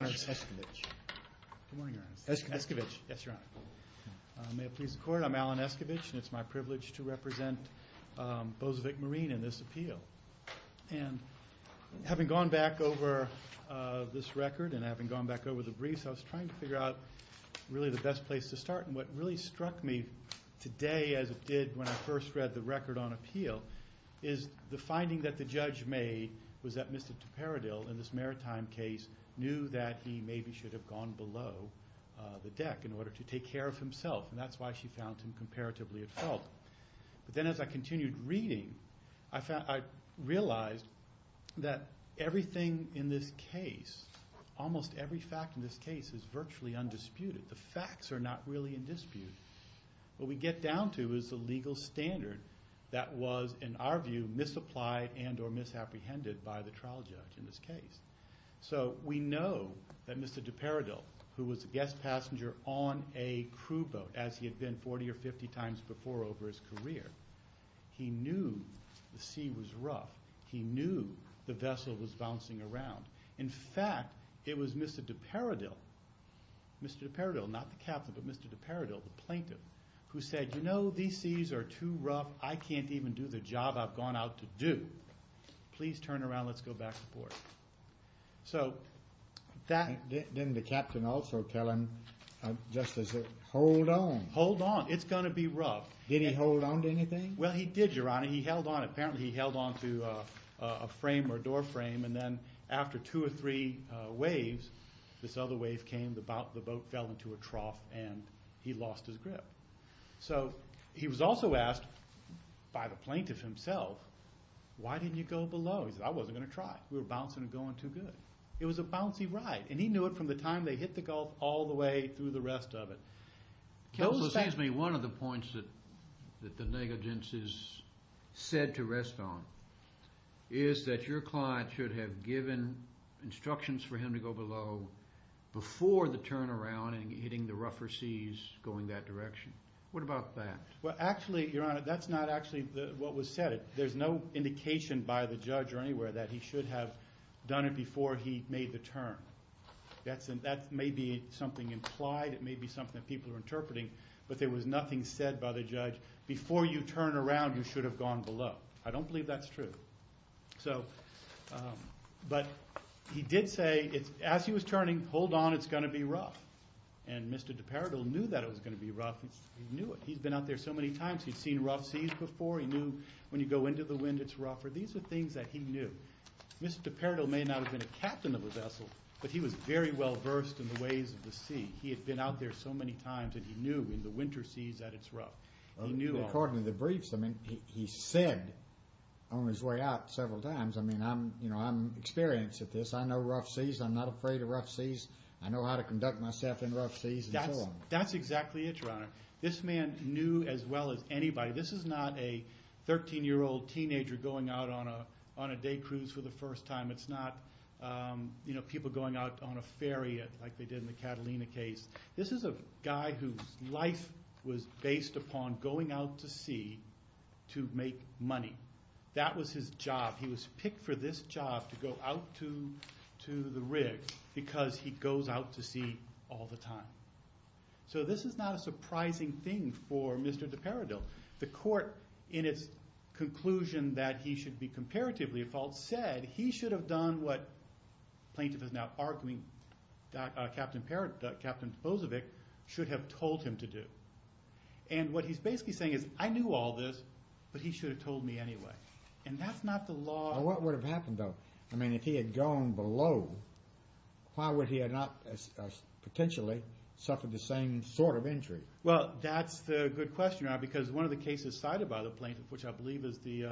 May it please the Court, I'm Alan Escovitch, and it's my privilege to represent Bozovic Marine in this appeal. And having gone back over this record and having gone back over the briefs, I was trying to figure out really the best place to start. And what really struck me today as it did when I first read the record on appeal is the finding that the judge made was that Mr. dePerrodil in this maritime case knew that he maybe should have gone below the deck in order to take care of himself. And that's why she found him comparatively at fault. But then as I continued reading, I realized that everything in this case, almost every fact in this case is virtually undisputed. The facts are not really in dispute. What we get down to is the legal standard that was, in our view, misapplied and or misapprehended by the trial judge in this case. So we know that Mr. dePerrodil, who was a guest passenger on a crew boat, as he had been 40 or 50 times before over his career, he knew the sea was rough. He knew the vessel was bouncing around. In fact, it was Mr. dePerrodil, not the captain, but Mr. dePerrodil, the plaintiff, who said, you know, these seas are too rough. I can't even do the job I've gone out to do. Please turn around. Let's go back aboard. So that... Didn't the captain also tell him just to hold on? Hold on. It's going to be rough. Did he hold on to anything? Well, he did, Your Honor. He held on. Apparently he held on to a frame or a door frame, and then after two or three waves, this other wave came, the boat fell into a trough, and he lost his grip. So he was also asked by the plaintiff himself, why didn't you go below? He said, I wasn't going to try. We were bouncing and going too good. It was a bouncy ride, and he knew it from the time they hit the gulf all the way through the rest of it. One of the points that the negligence is said to rest on is that your client should have given instructions for him to go below before the turnaround and hitting the rougher seas, going that direction. What about that? Well, actually, Your Honor, that's not actually what was said. There's no indication by the judge or anywhere that he should have done it before he made the turn. That may be something implied. It may be something that people are interpreting, but there was nothing said by the judge. Before you turn around, you should have gone below. I don't believe that's true. But he did say, as he was turning, hold on, it's going to be rough. And Mr. DePardoe knew that it was going to be rough. He knew it. He'd been out there so many times. He'd seen rough seas before. He knew when you go into the wind, it's rougher. These are things that he knew. Mr. DePardoe may not have been a captain of a vessel, but he was very well versed in the ways of the sea. According to the briefs, I mean, he said on his way out several times, I mean, I'm experienced at this. I know rough seas. I'm not afraid of rough seas. I know how to conduct myself in rough seas and so on. That's exactly it, Your Honor. This man knew as well as anybody. This is not a 13-year-old teenager going out on a day cruise for the first time. It's not people going out on a ferry like they did in the Catalina case. This is a guy whose life was based upon going out to sea to make money. That was his job. He was picked for this job to go out to the rig because he goes out to sea all the time. So this is not a surprising thing for Mr. DePardoe. The court, in its conclusion that he should be comparatively at fault, has said he should have done what the plaintiff is now arguing Captain Bozovic should have told him to do. What he's basically saying is, I knew all this, but he should have told me anyway. That's not the law. What would have happened, though? I mean, if he had gone below, why would he have not potentially suffered the same sort of injury? Well, that's the good question, Your Honor, because one of the cases cited by the plaintiff, which I believe is the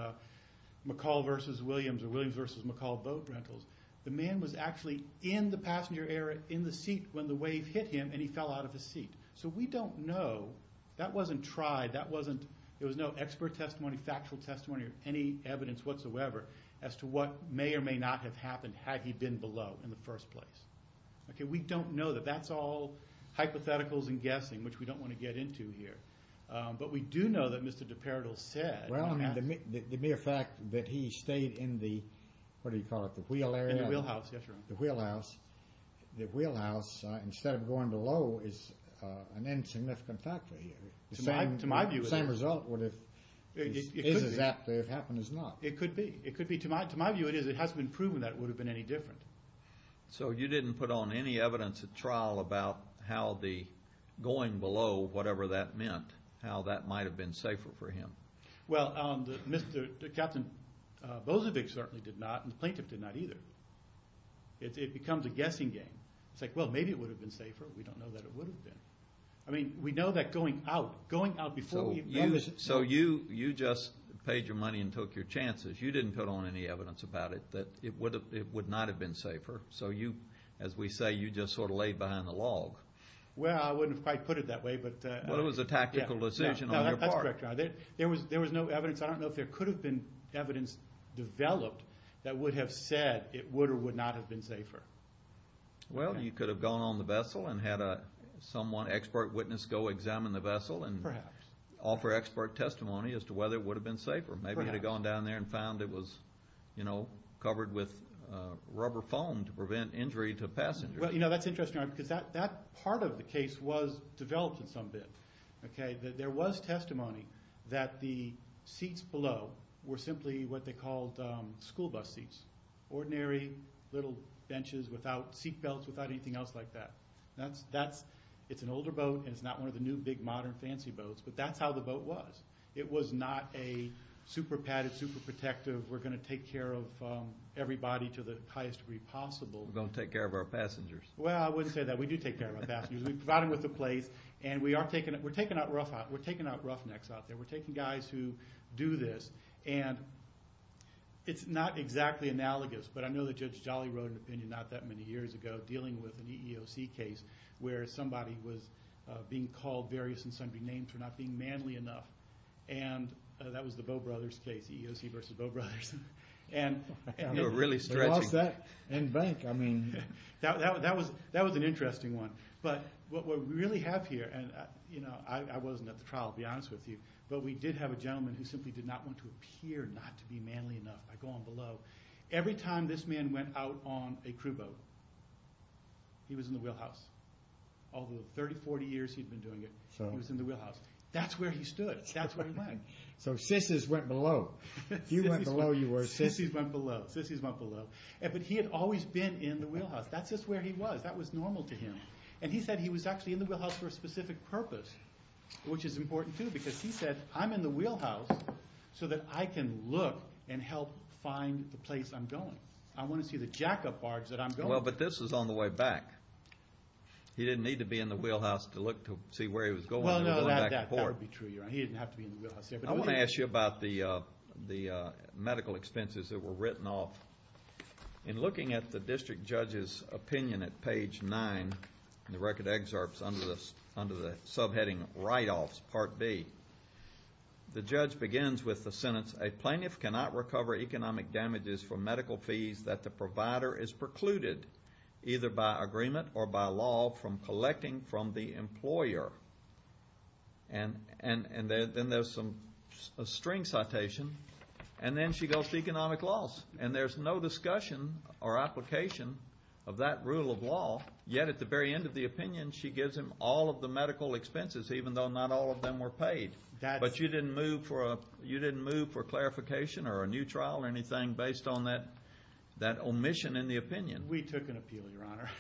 McCall v. Williams or Williams v. McCall boat rentals, the man was actually in the passenger area in the seat when the wave hit him and he fell out of his seat. So we don't know. That wasn't tried. There was no expert testimony, factual testimony, or any evidence whatsoever as to what may or may not have happened had he been below in the first place. We don't know that. That's all hypotheticals and guessing, which we don't want to get into here. But we do know that Mr. DePerdil said. Well, I mean, the mere fact that he stayed in the, what do you call it, the wheel area? In the wheelhouse, yes, Your Honor. The wheelhouse. The wheelhouse, instead of going below, is an insignificant factor here. To my view, it is. The same result is as if it happened or not. It could be. It could be. To my view, it is. It hasn't been proven that it would have been any different. So you didn't put on any evidence at trial about how the going below, whatever that meant, how that might have been safer for him. Well, Captain Bozovic certainly did not, and the plaintiff did not either. It becomes a guessing game. It's like, well, maybe it would have been safer. We don't know that it would have been. I mean, we know that going out, going out before we even noticed it. So you just paid your money and took your chances. You didn't put on any evidence about it that it would not have been safer. So you, as we say, you just sort of laid behind the log. Well, I wouldn't have quite put it that way. Well, it was a tactical decision on your part. That's correct, Your Honor. There was no evidence. I don't know if there could have been evidence developed that would have said it would or would not have been safer. Well, you could have gone on the vessel and had someone, an expert witness, go examine the vessel and offer expert testimony as to whether it would have been safer. Perhaps. Maybe you could have gone down there and found it was, you know, covered with rubber foam to prevent injury to passengers. Well, you know, that's interesting, Your Honor, because that part of the case was developed in some bit. Okay? There was testimony that the seats below were simply what they called school bus seats, ordinary little benches without seat belts, without anything else like that. It's an older boat, and it's not one of the new, big, modern, fancy boats, but that's how the boat was. It was not a super padded, super protective, we're going to take care of everybody to the highest degree possible. We're going to take care of our passengers. Well, I wouldn't say that. We do take care of our passengers. We provide them with a place, and we are taking out roughnecks out there. We're taking guys who do this, and it's not exactly analogous, but I know that Judge Jolly wrote an opinion not that many years ago dealing with an EEOC case where somebody was being called various and sundry names for not being manly enough, and that was the Bow Brothers case, EEOC versus Bow Brothers. They were really stretching. We lost that in bank. That was an interesting one. But what we really have here, and I wasn't at the trial, to be honest with you, but we did have a gentleman who simply did not want to appear not to be manly enough by going below. Every time this man went out on a crew boat, he was in the wheelhouse. All the 30, 40 years he'd been doing it, he was in the wheelhouse. That's where he stood. That's where he went. So sissies went below. If you went below, you were a sissy. Sissies went below. Sissies went below. But he had always been in the wheelhouse. That's just where he was. That was normal to him. And he said he was actually in the wheelhouse for a specific purpose, which is important, too, because he said, I'm in the wheelhouse so that I can look and help find the place I'm going. I want to see the jackup barge that I'm going. Well, but this is on the way back. He didn't need to be in the wheelhouse to look to see where he was going. Well, no, that would be true. He didn't have to be in the wheelhouse. I want to ask you about the medical expenses that were written off. In looking at the district judge's opinion at page 9, in the record excerpts under the subheading write-offs, Part B, the judge begins with the sentence, a plaintiff cannot recover economic damages for medical fees that the provider is precluded, either by agreement or by law, from collecting from the employer. And then there's a string citation. And then she goes to economic loss. And there's no discussion or application of that rule of law, yet at the very end of the opinion she gives him all of the medical expenses, even though not all of them were paid. But you didn't move for clarification or a new trial or anything based on that omission in the opinion? We took an appeal, Your Honor.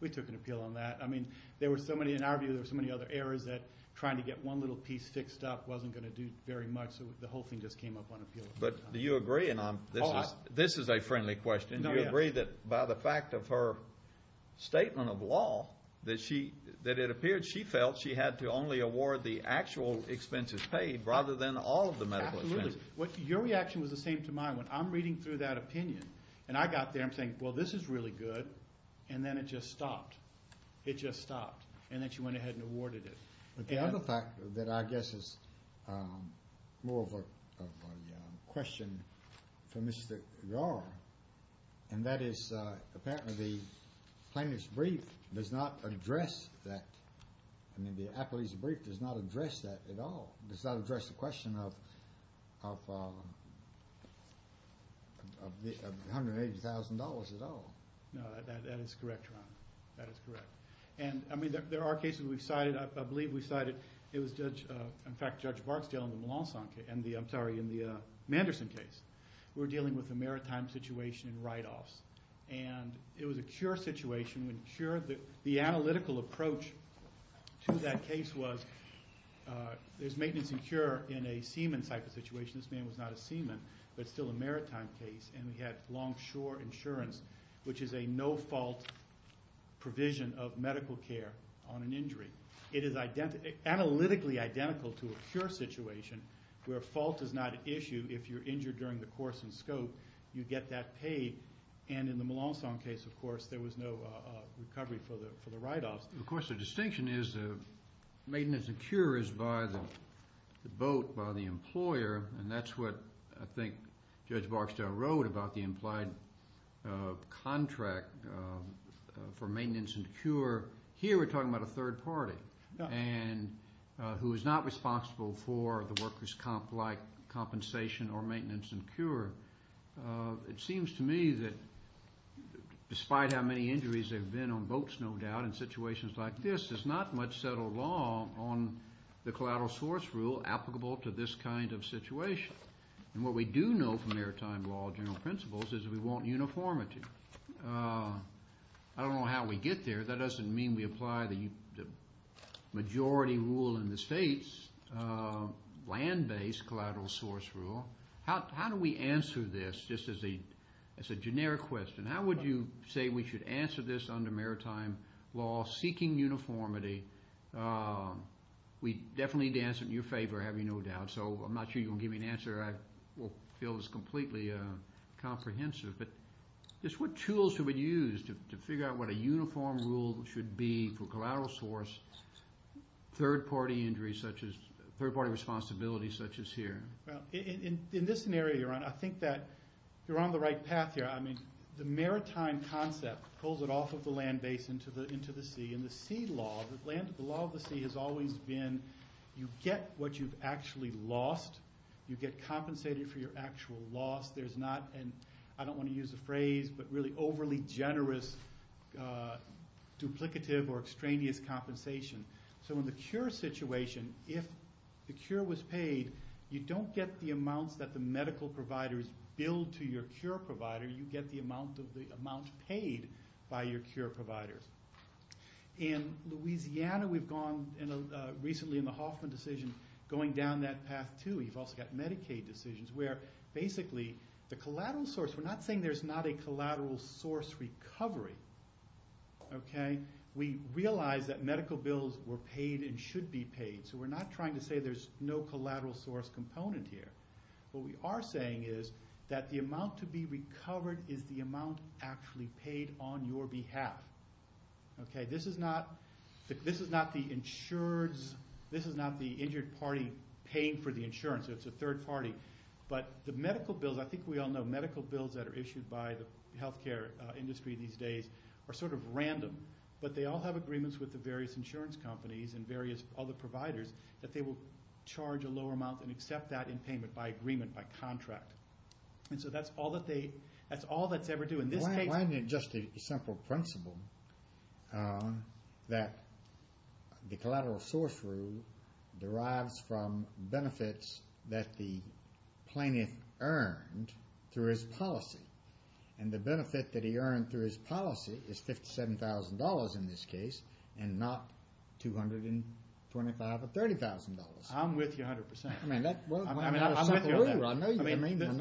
We took an appeal on that. I mean, there were so many, in our view, there were so many other areas that trying to get one little piece fixed up wasn't going to do very much. So the whole thing just came up on appeal. But do you agree? And this is a friendly question. Do you agree that by the fact of her statement of law, that it appeared she felt she had to only award the actual expenses paid rather than all of the medical expenses? Absolutely. Your reaction was the same to mine. When I'm reading through that opinion and I got there, I'm saying, well, this is really good. And then it just stopped. It just stopped. And then she went ahead and awarded it. But the other fact that I guess is more of a question for Mr. Yarr, and that is apparently the plaintiff's brief does not address that. I mean, the appellee's brief does not address that at all. It does not address the question of $180,000 at all. No, that is correct, Your Honor. That is correct. And, I mean, there are cases we've cited. I believe we cited, it was Judge, in fact, Judge Barksdale in the Malansan case. I'm sorry, in the Manderson case. We were dealing with a maritime situation in write-offs. And it was a cure situation. The analytical approach to that case was there's maintenance and cure in a seaman type of situation. This man was not a seaman but still a maritime case. And we had longshore insurance, which is a no-fault provision of medical care on an injury. It is analytically identical to a cure situation where fault is not an issue if you're injured during the course and scope. You get that paid. And in the Malansan case, of course, there was no recovery for the write-offs. Of course, the distinction is the maintenance and cure is by the boat, by the employer, and that's what I think Judge Barksdale wrote about the implied contract for maintenance and cure. Here we're talking about a third party who is not responsible for the worker's compensation or maintenance and cure. It seems to me that despite how many injuries there have been on boats, no doubt, in situations like this, there's not much settled law on the collateral source rule applicable to this kind of situation. And what we do know from maritime law general principles is we want uniformity. I don't know how we get there. That doesn't mean we apply the majority rule in the states, land-based collateral source rule. How do we answer this just as a generic question? How would you say we should answer this under maritime law seeking uniformity? We definitely need to answer it in your favor, I have no doubt. So I'm not sure you're going to give me an answer that I will feel is completely comprehensive. But just what tools should we use to figure out what a uniform rule should be for collateral source, third-party injuries such as – third-party responsibilities such as here? Well, in this scenario, Your Honor, I think that you're on the right path here. I mean the maritime concept pulls it off of the land base into the sea. In the sea law, the law of the sea has always been you get what you've actually lost. You get compensated for your actual loss. I don't want to use the phrase, but really overly generous duplicative or extraneous compensation. So in the cure situation, if the cure was paid, you don't get the amounts that the medical providers bill to your cure provider. You get the amount paid by your cure provider. In Louisiana, we've gone recently in the Hoffman decision going down that path too. We've also got Medicaid decisions where basically the collateral source – we're not saying there's not a collateral source recovery. We realize that medical bills were paid and should be paid. So we're not trying to say there's no collateral source component here. What we are saying is that the amount to be recovered is the amount actually paid on your behalf. This is not the injured party paying for the insurance. It's a third party. But the medical bills – I think we all know medical bills that are issued by the healthcare industry these days are sort of random. But they all have agreements with the various insurance companies and various other providers that they will charge a lower amount and accept that in payment by agreement, by contract. And so that's all that they – that's all that's ever do. Why isn't it just a simple principle that the collateral source rule derives from benefits that the plaintiff earned through his policy? And the benefit that he earned through his policy is $57,000 in this case and not $225,000 or $30,000. I'm with you 100%. I'm with you on that. I know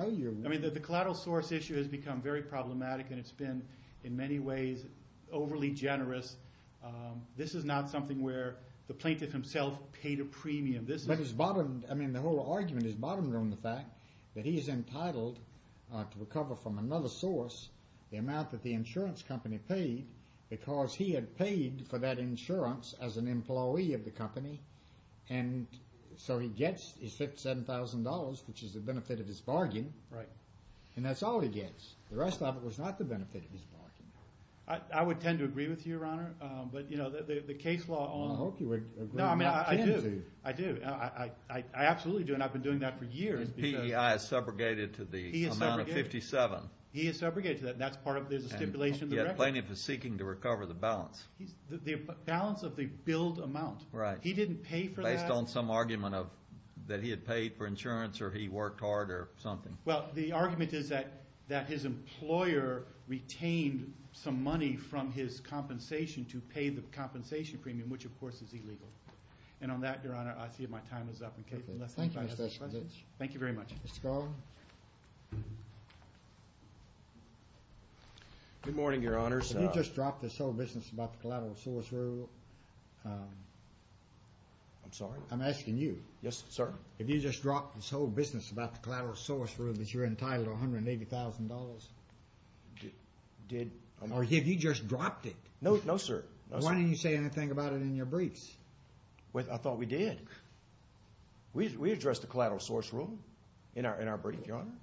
you. I mean the collateral source issue has become very problematic and it's been in many ways overly generous. This is not something where the plaintiff himself paid a premium. But his bottom – I mean the whole argument is bottomed on the fact that he is entitled to recover from another source the amount that the insurance company paid because he had paid for that insurance as an employee of the company. And so he gets his $57,000, which is the benefit of his bargain. Right. And that's all he gets. The rest of it was not the benefit of his bargain. I would tend to agree with you, Your Honor. But, you know, the case law on – I hope you would agree. No, I mean I do. I do. I absolutely do and I've been doing that for years because – And PEI is subrogated to the amount of 57. He is subrogated to that and that's part of – there's a stipulation of the record. And the plaintiff is seeking to recover the balance. The balance of the billed amount. Right. He didn't pay for that. Based on some argument that he had paid for insurance or he worked hard or something. Well, the argument is that his employer retained some money from his compensation to pay the compensation premium, which, of course, is illegal. And on that, Your Honor, I see my time is up. Thank you, Mr. Schwartz. Thank you very much. Mr. Garland. Good morning, Your Honors. Have you just dropped this whole business about the collateral source rule? I'm sorry? I'm asking you. Yes, sir. Have you just dropped this whole business about the collateral source rule that you're entitled to $180,000? Did – Or have you just dropped it? No, sir. No, sir. Why didn't you say anything about it in your briefs? I thought we did. We addressed the collateral source rule in our brief, Your Honor.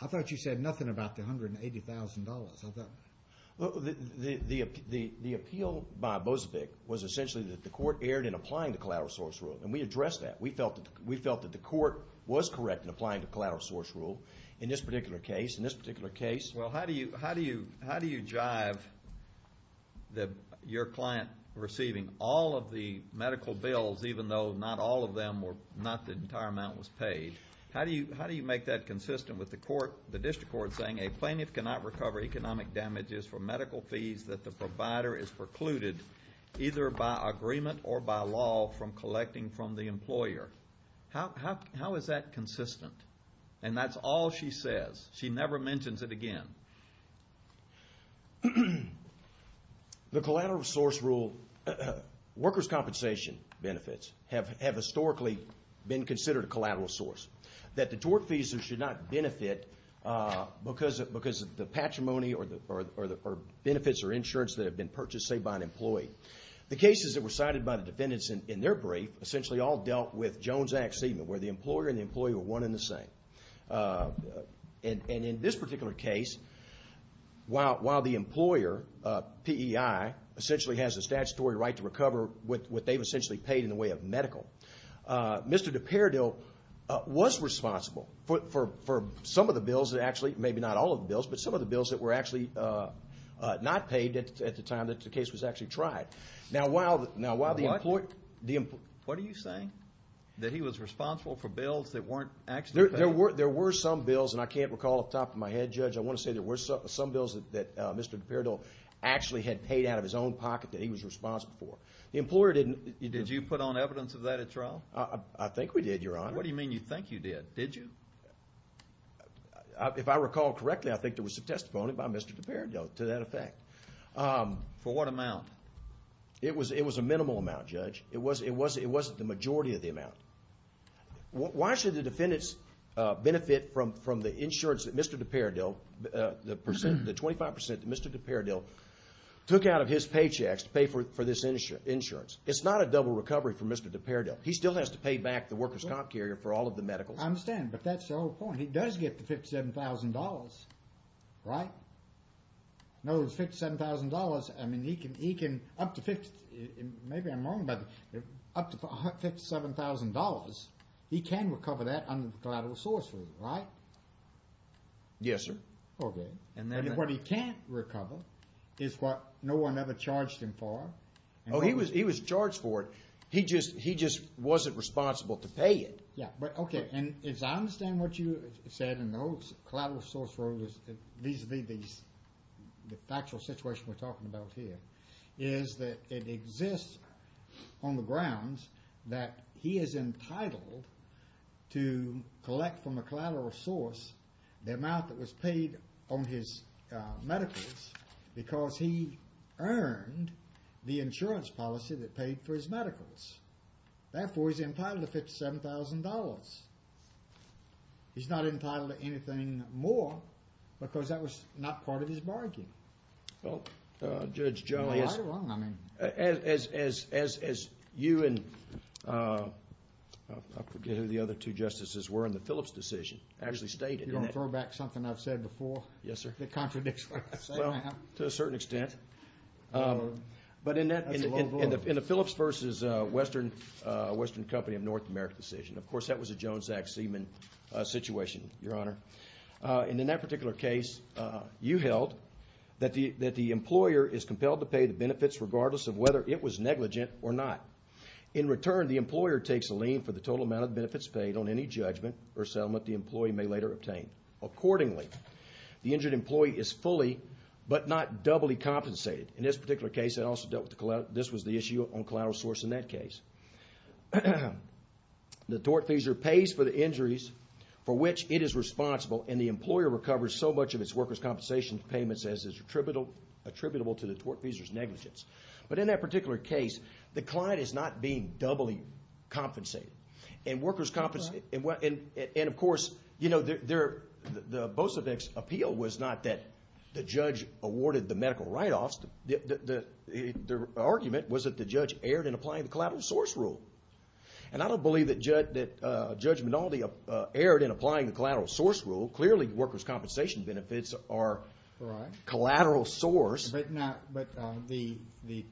I thought you said nothing about the $180,000. I thought – The appeal by Bozovic was essentially that the court erred in applying the collateral source rule. And we addressed that. We felt that the court was correct in applying the collateral source rule in this particular case. In this particular case – Well, how do you jive your client receiving all of the medical bills, even though not all of them were – not the entire amount was paid? How do you make that consistent with the court – the district court saying a plaintiff cannot recover economic damages from medical fees that the provider has precluded either by agreement or by law from collecting from the employer? How is that consistent? And that's all she says. She never mentions it again. The collateral source rule – workers' compensation benefits have historically been considered a collateral source. That the tort fees should not benefit because of the patrimony or benefits or insurance that have been purchased, say, by an employee. The cases that were cited by the defendants in their brief essentially all dealt with Jones Act segment, where the employer and the employee were one and the same. And in this particular case, while the employer, PEI, essentially has a statutory right to recover what they've essentially paid in the way of medical, Mr. DePerdil was responsible for some of the bills that actually – maybe not all of the bills, but some of the bills that were actually not paid at the time that the case was actually tried. Now, while the – What are you saying? There were some bills, and I can't recall off the top of my head, Judge, I want to say there were some bills that Mr. DePerdil actually had paid out of his own pocket that he was responsible for. The employer didn't – Did you put on evidence of that at trial? I think we did, Your Honor. What do you mean you think you did? Did you? If I recall correctly, I think there was some testimony by Mr. DePerdil to that effect. For what amount? It was a minimal amount, Judge. It wasn't the majority of the amount. Why should the defendants benefit from the insurance that Mr. DePerdil, the 25% that Mr. DePerdil took out of his paychecks to pay for this insurance? It's not a double recovery for Mr. DePerdil. He still has to pay back the workers' comp carrier for all of the medicals. I understand, but that's the whole point. He does get the $57,000, right? No, it's $57,000. I mean, he can – up to – maybe I'm wrong, but up to $57,000, he can recover that under the collateral source rule, right? Yes, sir. Okay. And then what he can't recover is what no one ever charged him for. Oh, he was charged for it. He just wasn't responsible to pay it. Yeah, but okay, and as I understand what you said in those collateral source rules, these – the factual situation we're talking about here is that it exists on the grounds that he is entitled to collect from a collateral source the amount that was paid on his medicals because he earned the insurance policy that paid for his medicals. Therefore, he's entitled to $57,000. He's not entitled to anything more because that was not part of his bargain. Well, Judge Joe, as you and – I forget who the other two justices were in the Phillips decision – actually stated that – You're going to throw back something I've said before? Yes, sir. That contradicts what I've said now? Well, to a certain extent. But in the Phillips versus Western Company of North America decision, of course that was a Jones-Zach Seaman situation, Your Honor. And in that particular case, you held that the employer is compelled to pay the benefits regardless of whether it was negligent or not. In return, the employer takes a lien for the total amount of benefits paid on any judgment or settlement the employee may later obtain. Accordingly, the injured employee is fully but not doubly compensated. In this particular case, this was the issue on collateral source in that case. The tortfeasor pays for the injuries for which it is responsible, and the employer recovers so much of its workers' compensation payments as is attributable to the tortfeasor's negligence. But in that particular case, the client is not being doubly compensated. And, of course, you know, the Bosevic's appeal was not that the judge awarded the medical write-offs. The argument was that the judge erred in applying the collateral source rule. And I don't believe that Judge Minaldi erred in applying the collateral source rule. Clearly, workers' compensation benefits are collateral source. But the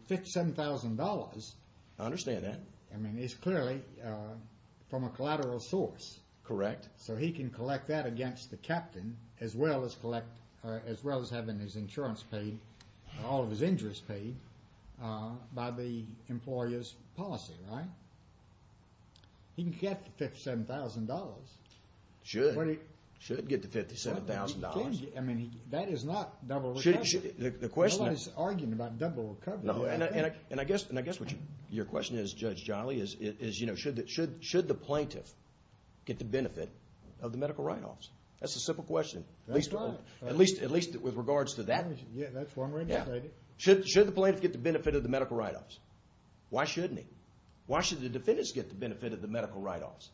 $57,000. I understand that. I mean, it's clearly from a collateral source. Correct. So he can collect that against the captain as well as having his insurance paid, all of his injuries paid, by the employer's policy, right? He can get the $57,000. Should. Should get the $57,000. I mean, that is not double recovery. No one is arguing about double recovery. And I guess what your question is, Judge Jolly, is, you know, should the plaintiff get the benefit of the medical write-offs? That's a simple question. That's right. At least with regards to that. Yeah, that's one way to say it. Should the plaintiff get the benefit of the medical write-offs? Why shouldn't he? Why should the defendants get the benefit of the medical write-offs?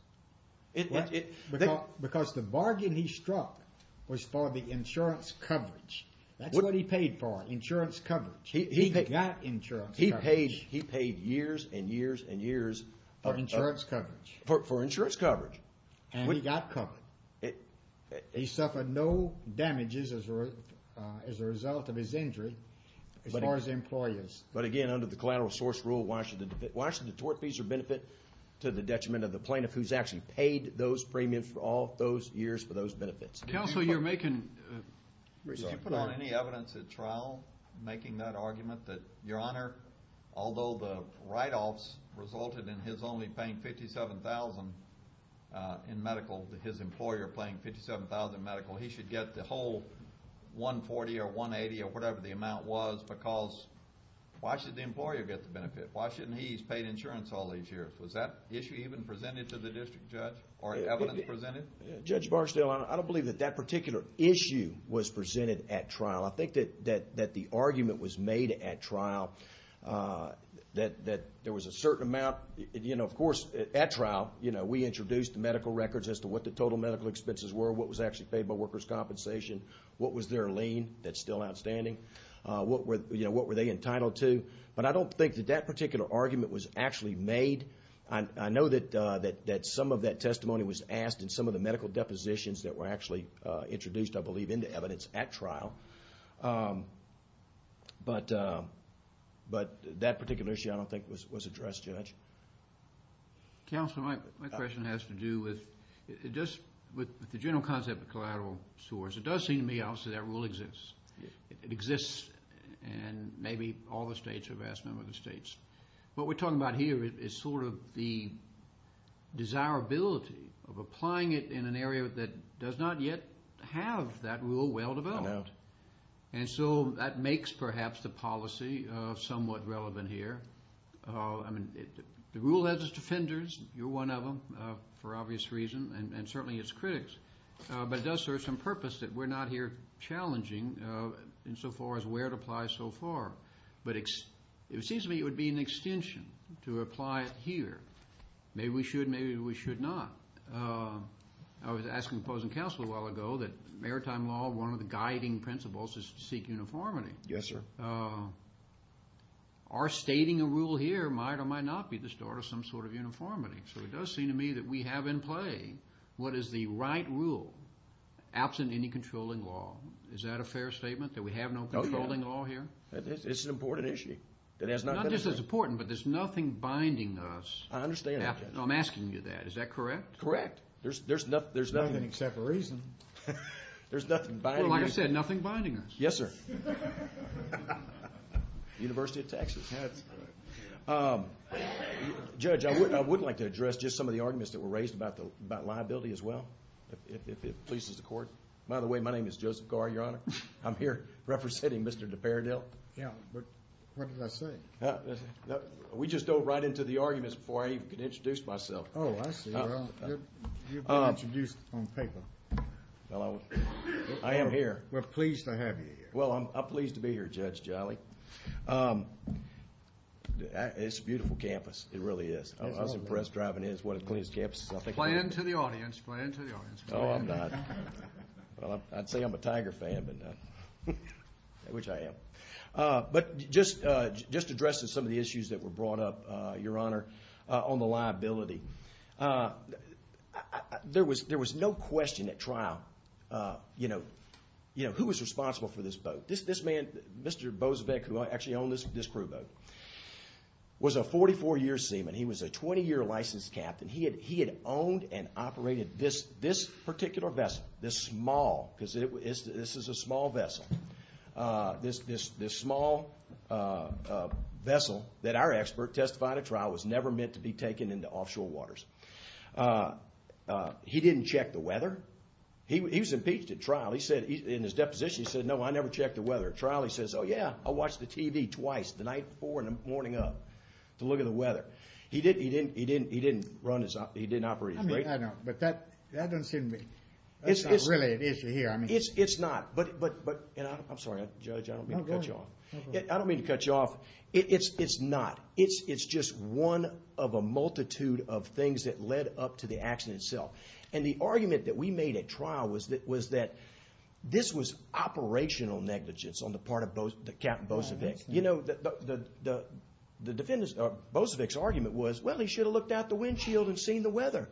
Because the bargain he struck was for the insurance coverage. That's what he paid for, insurance coverage. He got insurance coverage. He paid years and years and years. For insurance coverage. For insurance coverage. And he got covered. He suffered no damages as a result of his injury, as far as employers. But again, under the collateral source rule, why should the tortfeasor benefit to the detriment of the plaintiff who's actually paid those premiums for all those years for those benefits? Counsel, you're making... Your Honor, although the write-offs resulted in his only paying $57,000 in medical, his employer paying $57,000 in medical, he should get the whole $140,000 or $180,000 or whatever the amount was because why should the employer get the benefit? Why shouldn't he? He's paid insurance all these years. Was that issue even presented to the district judge or evidence presented? Judge Barksdale, I don't believe that that particular issue was presented at trial. I think that the argument was made at trial that there was a certain amount. Of course, at trial, we introduced the medical records as to what the total medical expenses were, what was actually paid by workers' compensation, what was their lien, that's still outstanding, what were they entitled to. But I don't think that that particular argument was actually made. I know that some of that testimony was asked in some of the medical depositions that were actually introduced, I believe, into evidence at trial. But that particular issue, I don't think, was addressed, Judge. Counsel, my question has to do with the general concept of collateral sores. It does seem to me, obviously, that rule exists. It exists in maybe all the states or a vast number of the states. What we're talking about here is sort of the desirability of applying it in an area that does not yet have that rule well developed. I know. And so that makes, perhaps, the policy somewhat relevant here. I mean, the rule has its defenders. You're one of them, for obvious reasons, and certainly its critics. But it does serve some purpose that we're not here challenging insofar as where it applies so far. But it seems to me it would be an extension to apply it here. Maybe we should, maybe we should not. I was asking opposing counsel a while ago that maritime law, one of the guiding principles is to seek uniformity. Yes, sir. Are stating a rule here might or might not be the start of some sort of uniformity? So it does seem to me that we have in play what is the right rule, absent any controlling law. Is that a fair statement, that we have no controlling law here? It's an important issue. Not just as important, but there's nothing binding us. I understand that. I'm asking you that. Is that correct? Correct. There's nothing. Nothing except for reason. There's nothing binding us. Well, like I said, nothing binding us. Yes, sir. University of Texas. That's correct. Judge, I would like to address just some of the arguments that were raised about liability as well, if it pleases the court. By the way, my name is Joseph Garr, Your Honor. I'm here representing Mr. DePerdil. Yeah, but what did I say? We just dove right into the arguments before I even could introduce myself. Oh, I see. Well, you've been introduced on paper. Well, I am here. We're pleased to have you here. Well, I'm pleased to be here, Judge Jolly. It's a beautiful campus. It really is. I was impressed driving in. It's one of the cleanest campuses I think I've ever been to. Play into the audience. Play into the audience. Oh, I'm not. Well, I'd say I'm a Tiger fan, which I am. But just addressing some of the issues that were brought up, Your Honor, on the liability. There was no question at trial, you know, who was responsible for this boat. This man, Mr. Boesvecht, who actually owned this crew boat, was a 44-year seaman. He was a 20-year licensed captain. He had owned and operated this particular vessel, this small, because this is a small vessel. This small vessel that our expert testified at trial was never meant to be taken into offshore waters. He didn't check the weather. He was impeached at trial. In his deposition, he said, No, I never checked the weather. At trial, he says, Oh, yeah, I watched the TV twice, the night before and the morning of, to look at the weather. He didn't run his – he didn't operate his – I mean, I know, but that doesn't seem to be – that's not really an issue here. It's not, but – and I'm sorry, Judge, I don't mean to cut you off. I don't mean to cut you off. It's not. It's just one of a multitude of things that led up to the accident itself. And the argument that we made at trial was that this was operational negligence on the part of Captain Boesvecht. You know, the defendants – Boesvecht's argument was, well, he should have looked out the windshield and seen the weather.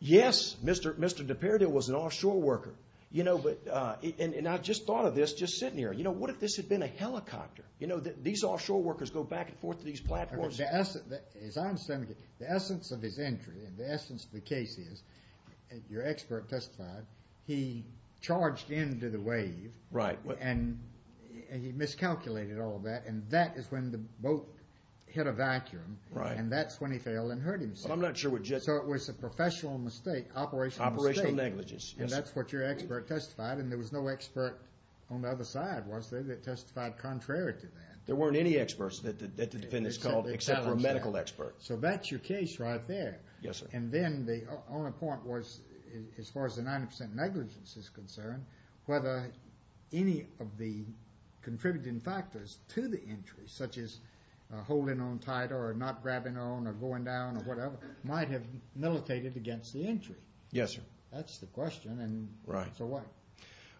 Yes, Mr. DePardieu was an offshore worker. You know, but – and I just thought of this just sitting here. You know, what if this had been a helicopter? You know, these offshore workers go back and forth to these platforms. As I understand it, the essence of his entry and the essence of the case is, your expert testified, he charged into the wave. Right. And he miscalculated all that, and that is when the boat hit a vacuum. Right. And that's when he failed and hurt himself. Well, I'm not sure what – So it was a professional mistake, operational mistake. Operational negligence, yes. And that's what your expert testified, and there was no expert on the other side, was there, that testified contrary to that? There weren't any experts that the defendants called except for a medical expert. So that's your case right there. Yes, sir. And then the only point was, as far as the 90% negligence is concerned, whether any of the contributing factors to the entry, such as holding on tight or not grabbing on or going down or whatever, might have militated against the entry. Yes, sir. That's the question. Right. So what?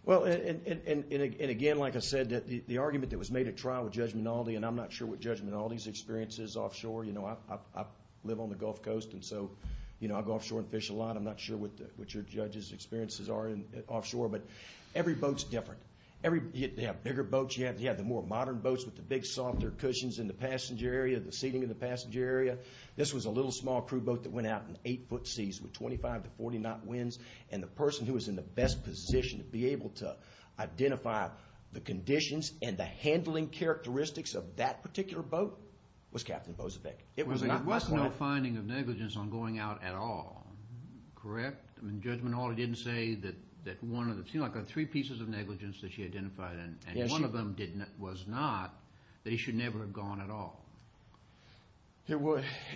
Well, and again, like I said, the argument that was made at trial with Judge Minaldi, and I'm not sure what Judge Minaldi's experience is offshore. You know, I live on the Gulf Coast, and so, you know, I go offshore and fish a lot. I'm not sure what your judges' experiences are offshore. But every boat's different. You have bigger boats, you have the more modern boats with the big, softer cushions in the passenger area, the seating in the passenger area. This was a little, small crew boat that went out in eight-foot seas with 25 to 40-knot winds, and the person who was in the best position to be able to identify the conditions and the handling characteristics of that particular boat was Captain Bozovec. It was not my client. There was no finding of negligence on going out at all, correct? I mean, Judge Minaldi didn't say that one of the three pieces of negligence that she identified, and one of them was not that he should never have gone at all.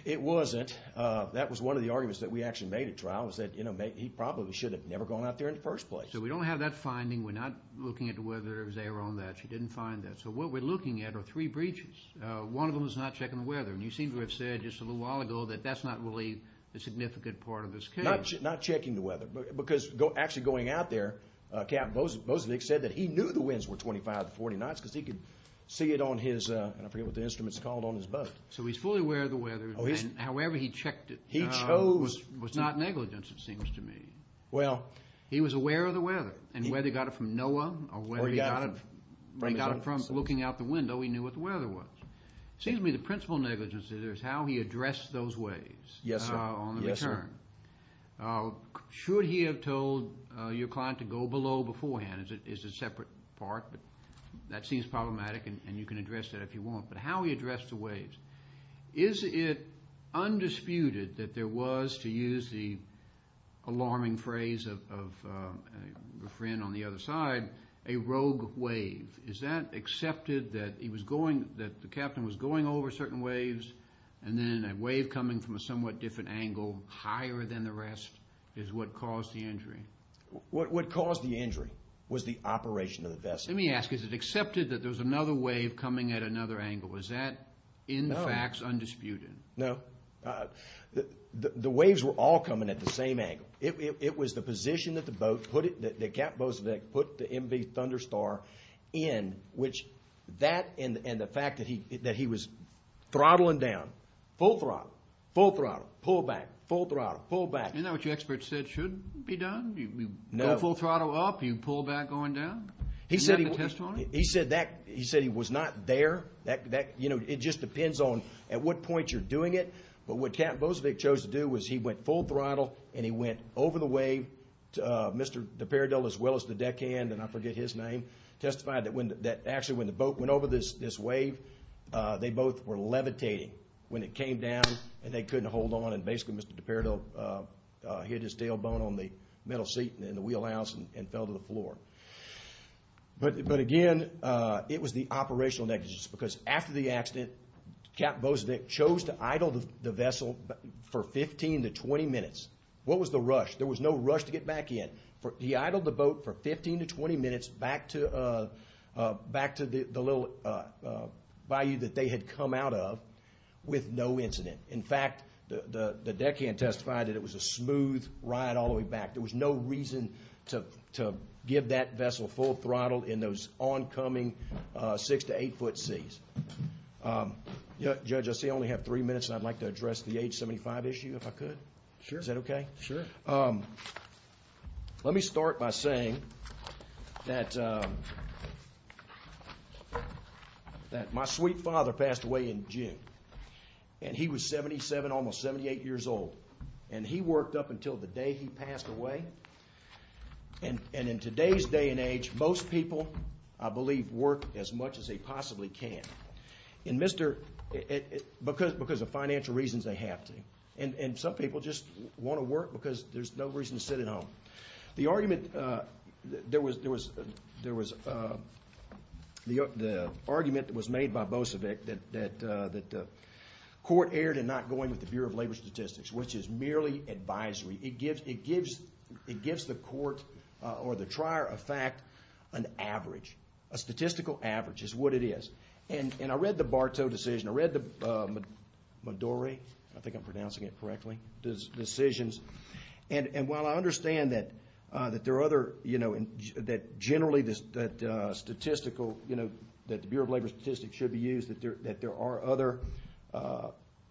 It wasn't. That was one of the arguments that we actually made at trial, was that he probably should have never gone out there in the first place. So we don't have that finding. We're not looking into whether or not they were on that. She didn't find that. So what we're looking at are three breaches. One of them is not checking the weather, and you seem to have said just a little while ago that that's not really the significant part of this case. Not checking the weather, because actually going out there, Captain Bozovec said that he knew the winds were 25 to 40 knots because he could see it on his, and I forget what the instrument's called, on his boat. So he's fully aware of the weather, and however he checked it was not negligence, it seems to me. Well. He was aware of the weather, and whether he got it from NOAA or whether he got it from looking out the window, he knew what the weather was. It seems to me the principal negligence is how he addressed those waves. Yes, sir. On the return. Should he have told your client to go below beforehand is a separate part, but that seems problematic, and you can address that if you want. But how he addressed the waves. Is it undisputed that there was, to use the alarming phrase of a friend on the other side, a rogue wave? Is that accepted that he was going, that the captain was going over certain waves, and then a wave coming from a somewhat different angle, higher than the rest, is what caused the injury? What caused the injury was the operation of the vessel. Let me ask, is it accepted that there was another wave coming at another angle? Was that, in the facts, undisputed? No. The waves were all coming at the same angle. It was the position that the captain put the MV Thunderstar in, which that and the fact that he was throttling down, full throttle, full throttle, pull back, full throttle, pull back. Isn't that what your expert said should be done? No. Go full throttle up, you pull back going down? He said he was not there. That, you know, it just depends on at what point you're doing it. But what Captain Bozovic chose to do was he went full throttle and he went over the wave. Mr. DePerdil, as well as the deckhand, and I forget his name, testified that actually when the boat went over this wave, they both were levitating when it came down and they couldn't hold on. And basically Mr. DePerdil hit his tailbone on the middle seat in the wheelhouse and fell to the floor. But again, it was the operational negligence, because after the accident Captain Bozovic chose to idle the vessel for 15 to 20 minutes. What was the rush? There was no rush to get back in. He idled the boat for 15 to 20 minutes back to the little bayou that they had come out of with no incident. In fact, the deckhand testified that it was a smooth ride all the way back. There was no reason to give that vessel full throttle in those oncoming six to eight foot seas. Judge, I see I only have three minutes and I'd like to address the age 75 issue if I could. Sure. Is that okay? Sure. Let me start by saying that my sweet father passed away in June. And he was 77, almost 78 years old. And he worked up until the day he passed away. And in today's day and age, most people, I believe, work as much as they possibly can because of financial reasons they have to. And some people just want to work because there's no reason to sit at home. The argument that was made by Bozovic that the court erred in not going with the Bureau of Labor Statistics, which is merely advisory, it gives the court or the trier of fact an average, a statistical average is what it is. And I read the Bartow decision. I read the Madore, I think I'm pronouncing it correctly, decisions. And while I understand that there are other, you know, that generally that statistical, you know, that the Bureau of Labor Statistics should be used, that there are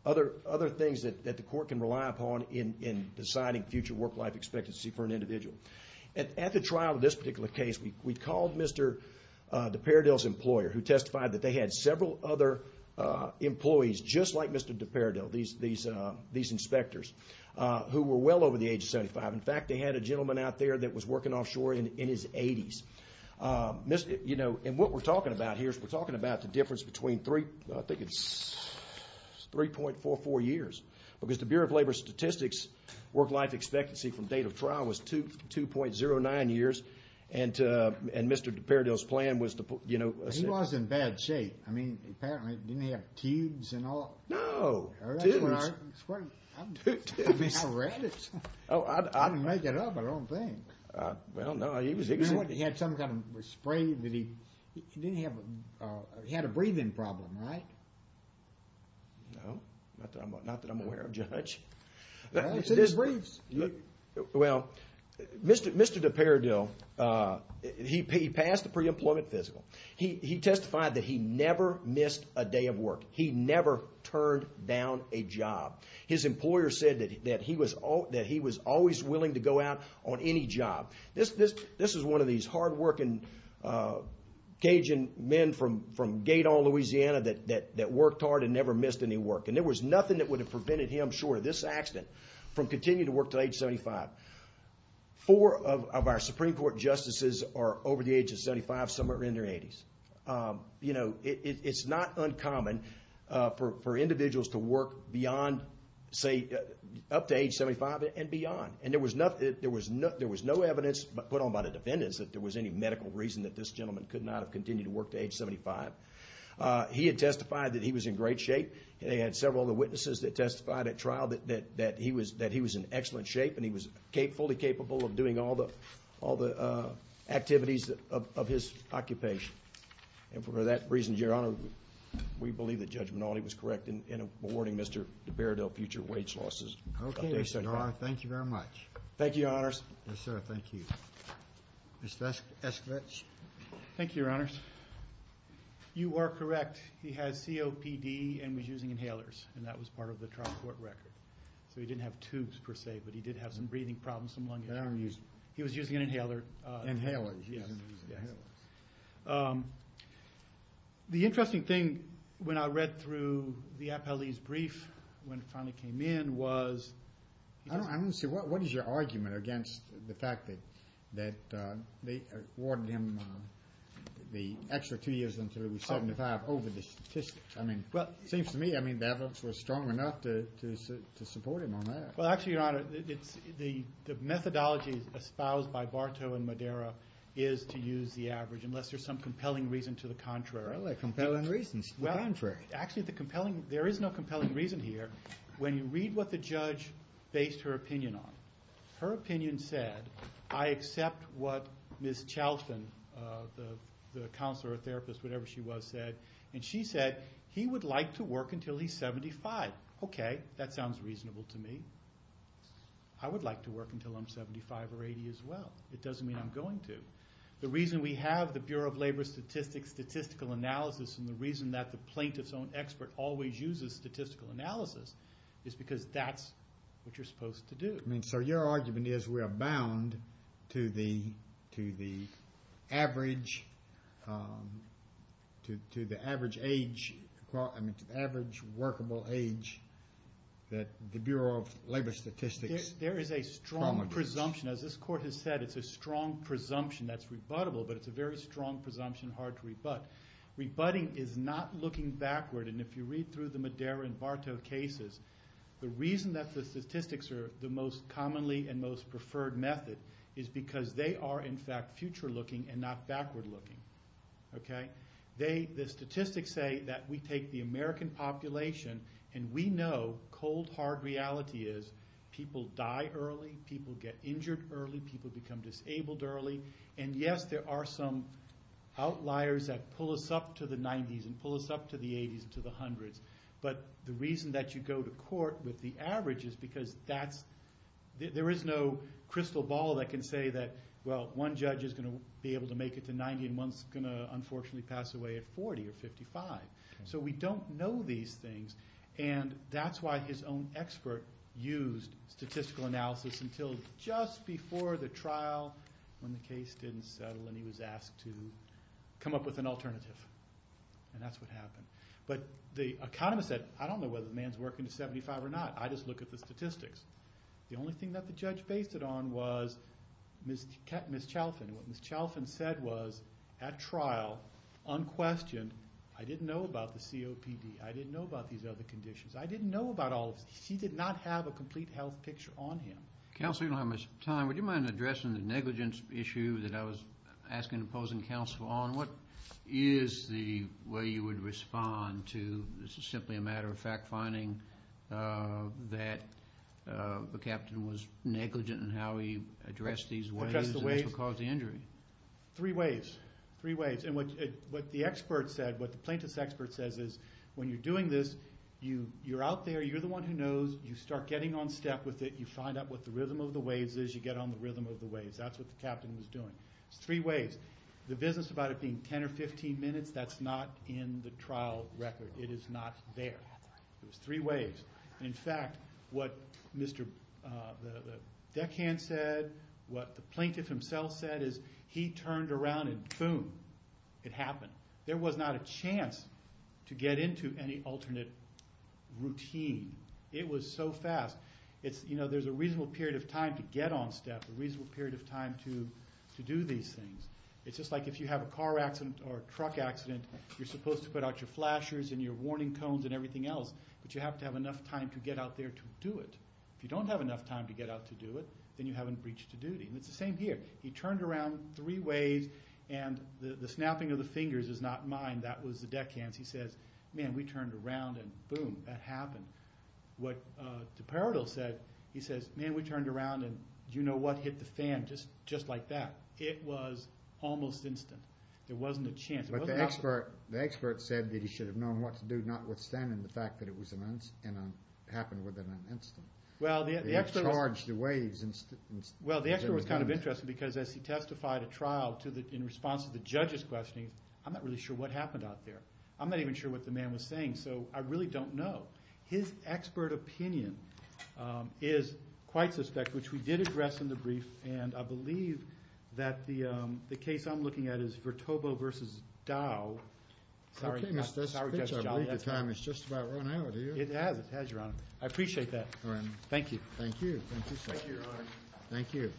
other things that the court can rely upon in deciding future work-life expectancy for an individual. And at the trial of this particular case, we called Mr. DePardell's employer, who testified that they had several other employees just like Mr. DePardell, these inspectors, who were well over the age of 75. In fact, they had a gentleman out there that was working offshore in his 80s. You know, and what we're talking about here is we're talking about the difference between three, I think it's 3.44 years. Because the Bureau of Labor Statistics work-life expectancy from date of trial was 2.09 years. And Mr. DePardell's plan was to, you know. He was in bad shape. I mean, apparently, didn't he have tubes and all? No. I mean, I read it. I didn't make it up, I don't think. Well, no, he was. He had some kind of spray that he didn't have. He had a breathing problem, right? No, not that I'm aware of, Judge. Well, he said he breathes. Well, Mr. DePardell, he passed the pre-employment physical. He testified that he never missed a day of work. He never turned down a job. His employer said that he was always willing to go out on any job. This is one of these hard-working Cajun men from Gaydon, Louisiana, that worked hard and never missed any work. And there was nothing that would have prevented him, sure, this accident, from continuing to work to age 75. Four of our Supreme Court justices are over the age of 75, some are in their 80s. You know, it's not uncommon for individuals to work beyond, say, up to age 75 and beyond. And there was no evidence put on by the defendants that there was any medical reason that this gentleman could not have continued to work to age 75. He had testified that he was in great shape. They had several other witnesses that testified at trial that he was in excellent shape and he was fully capable of doing all the activities of his occupation. And for that reason, Your Honor, we believe that Judge Minaldi was correct in awarding Mr. DePardell future wage losses. Okay, Your Honor. Thank you very much. Thank you, Your Honors. Yes, sir. Thank you. Mr. Eskewits. Thank you, Your Honors. You are correct. He has COPD and was using inhalers, and that was part of the trial court record. So he didn't have tubes, per se, but he did have some breathing problems, some lung issues. He was using an inhaler. Inhalers. The interesting thing when I read through the appellee's brief when it finally came in was I don't see what is your argument against the fact that they awarded him the extra two years until he was 75 over the statistics? I mean, it seems to me the evidence was strong enough to support him on that. Well, actually, Your Honor, the methodology espoused by Bartow and Madera is to use the average, unless there's some compelling reason to the contrary. Well, there are compelling reasons to the contrary. Actually, there is no compelling reason here. When you read what the judge based her opinion on, her opinion said, I accept what Ms. Chalfton, the counselor or therapist, whatever she was, said, and she said he would like to work until he's 75. I said, okay, that sounds reasonable to me. I would like to work until I'm 75 or 80 as well. It doesn't mean I'm going to. The reason we have the Bureau of Labor Statistics statistical analysis and the reason that the plaintiff's own expert always uses statistical analysis is because that's what you're supposed to do. So your argument is we are bound to the average age, I mean, to the average workable age that the Bureau of Labor Statistics promotes. There is a strong presumption. As this court has said, it's a strong presumption that's rebuttable, but it's a very strong presumption hard to rebut. Rebutting is not looking backward, and if you read through the Madera and Bartow cases, the reason that the statistics are the most commonly and most preferred method is because they are, in fact, future-looking and not backward-looking. The statistics say that we take the American population, and we know cold, hard reality is people die early, people get injured early, people become disabled early. And yes, there are some outliers that pull us up to the 90s and pull us up to the 80s and to the 100s. But the reason that you go to court with the average is because there is no crystal ball that can say that, well, one judge is going to be able to make it to 90 and one's going to unfortunately pass away at 40 or 55. So we don't know these things, and that's why his own expert used statistical analysis until just before the trial when the case didn't settle and he was asked to come up with an alternative. And that's what happened. But the economist said, I don't know whether the man's working to 75 or not. I just look at the statistics. The only thing that the judge based it on was Ms. Chalfin. What Ms. Chalfin said was, at trial, unquestioned, I didn't know about the COPD. I didn't know about these other conditions. I didn't know about all of this. She did not have a complete health picture on him. Counselor, you don't have much time. Would you mind addressing the negligence issue that I was asking and opposing counsel on? What is the way you would respond to this is simply a matter of fact finding that the captain was negligent in how he addressed these waves and caused the injury? Three waves. Three waves. And what the plaintiff's expert says is, when you're doing this, you're out there, you're the one who knows, you start getting on step with it, you find out what the rhythm of the waves is, you get on the rhythm of the waves. That's what the captain was doing. It's three waves. The business about it being 10 or 15 minutes, that's not in the trial record. It is not there. It was three waves. And, in fact, what Mr. Deccan said, what the plaintiff himself said, is he turned around and boom, it happened. There was not a chance to get into any alternate routine. It was so fast. There's a reasonable period of time to get on step, a reasonable period of time to do these things. It's just like if you have a car accident or a truck accident, you're supposed to put out your flashers and your warning cones and everything else, but you have to have enough time to get out there to do it. If you don't have enough time to get out to do it, then you haven't breached a duty. And it's the same here. He turned around three waves and the snapping of the fingers is not mine. That was Deccan's. He says, man, we turned around and boom, that happened. What Deperado said, he says, man, we turned around and you know what, hit the fan just like that. It was almost instant. There wasn't a chance. But the expert said that he should have known what to do, notwithstanding the fact that it happened within an instant. Well, the expert was kind of interesting because as he testified at trial in response to the judge's questioning, I'm not really sure what happened out there. I'm not even sure what the man was saying, so I really don't know. His expert opinion is quite suspect, which we did address in the brief, and I believe that the case I'm looking at is Vertobo v. Dow. I believe the time has just about run out. It has, it has, Your Honor. I appreciate that. Thank you. Thank you. Thank you, sir. Thank you, Your Honor. Thank you.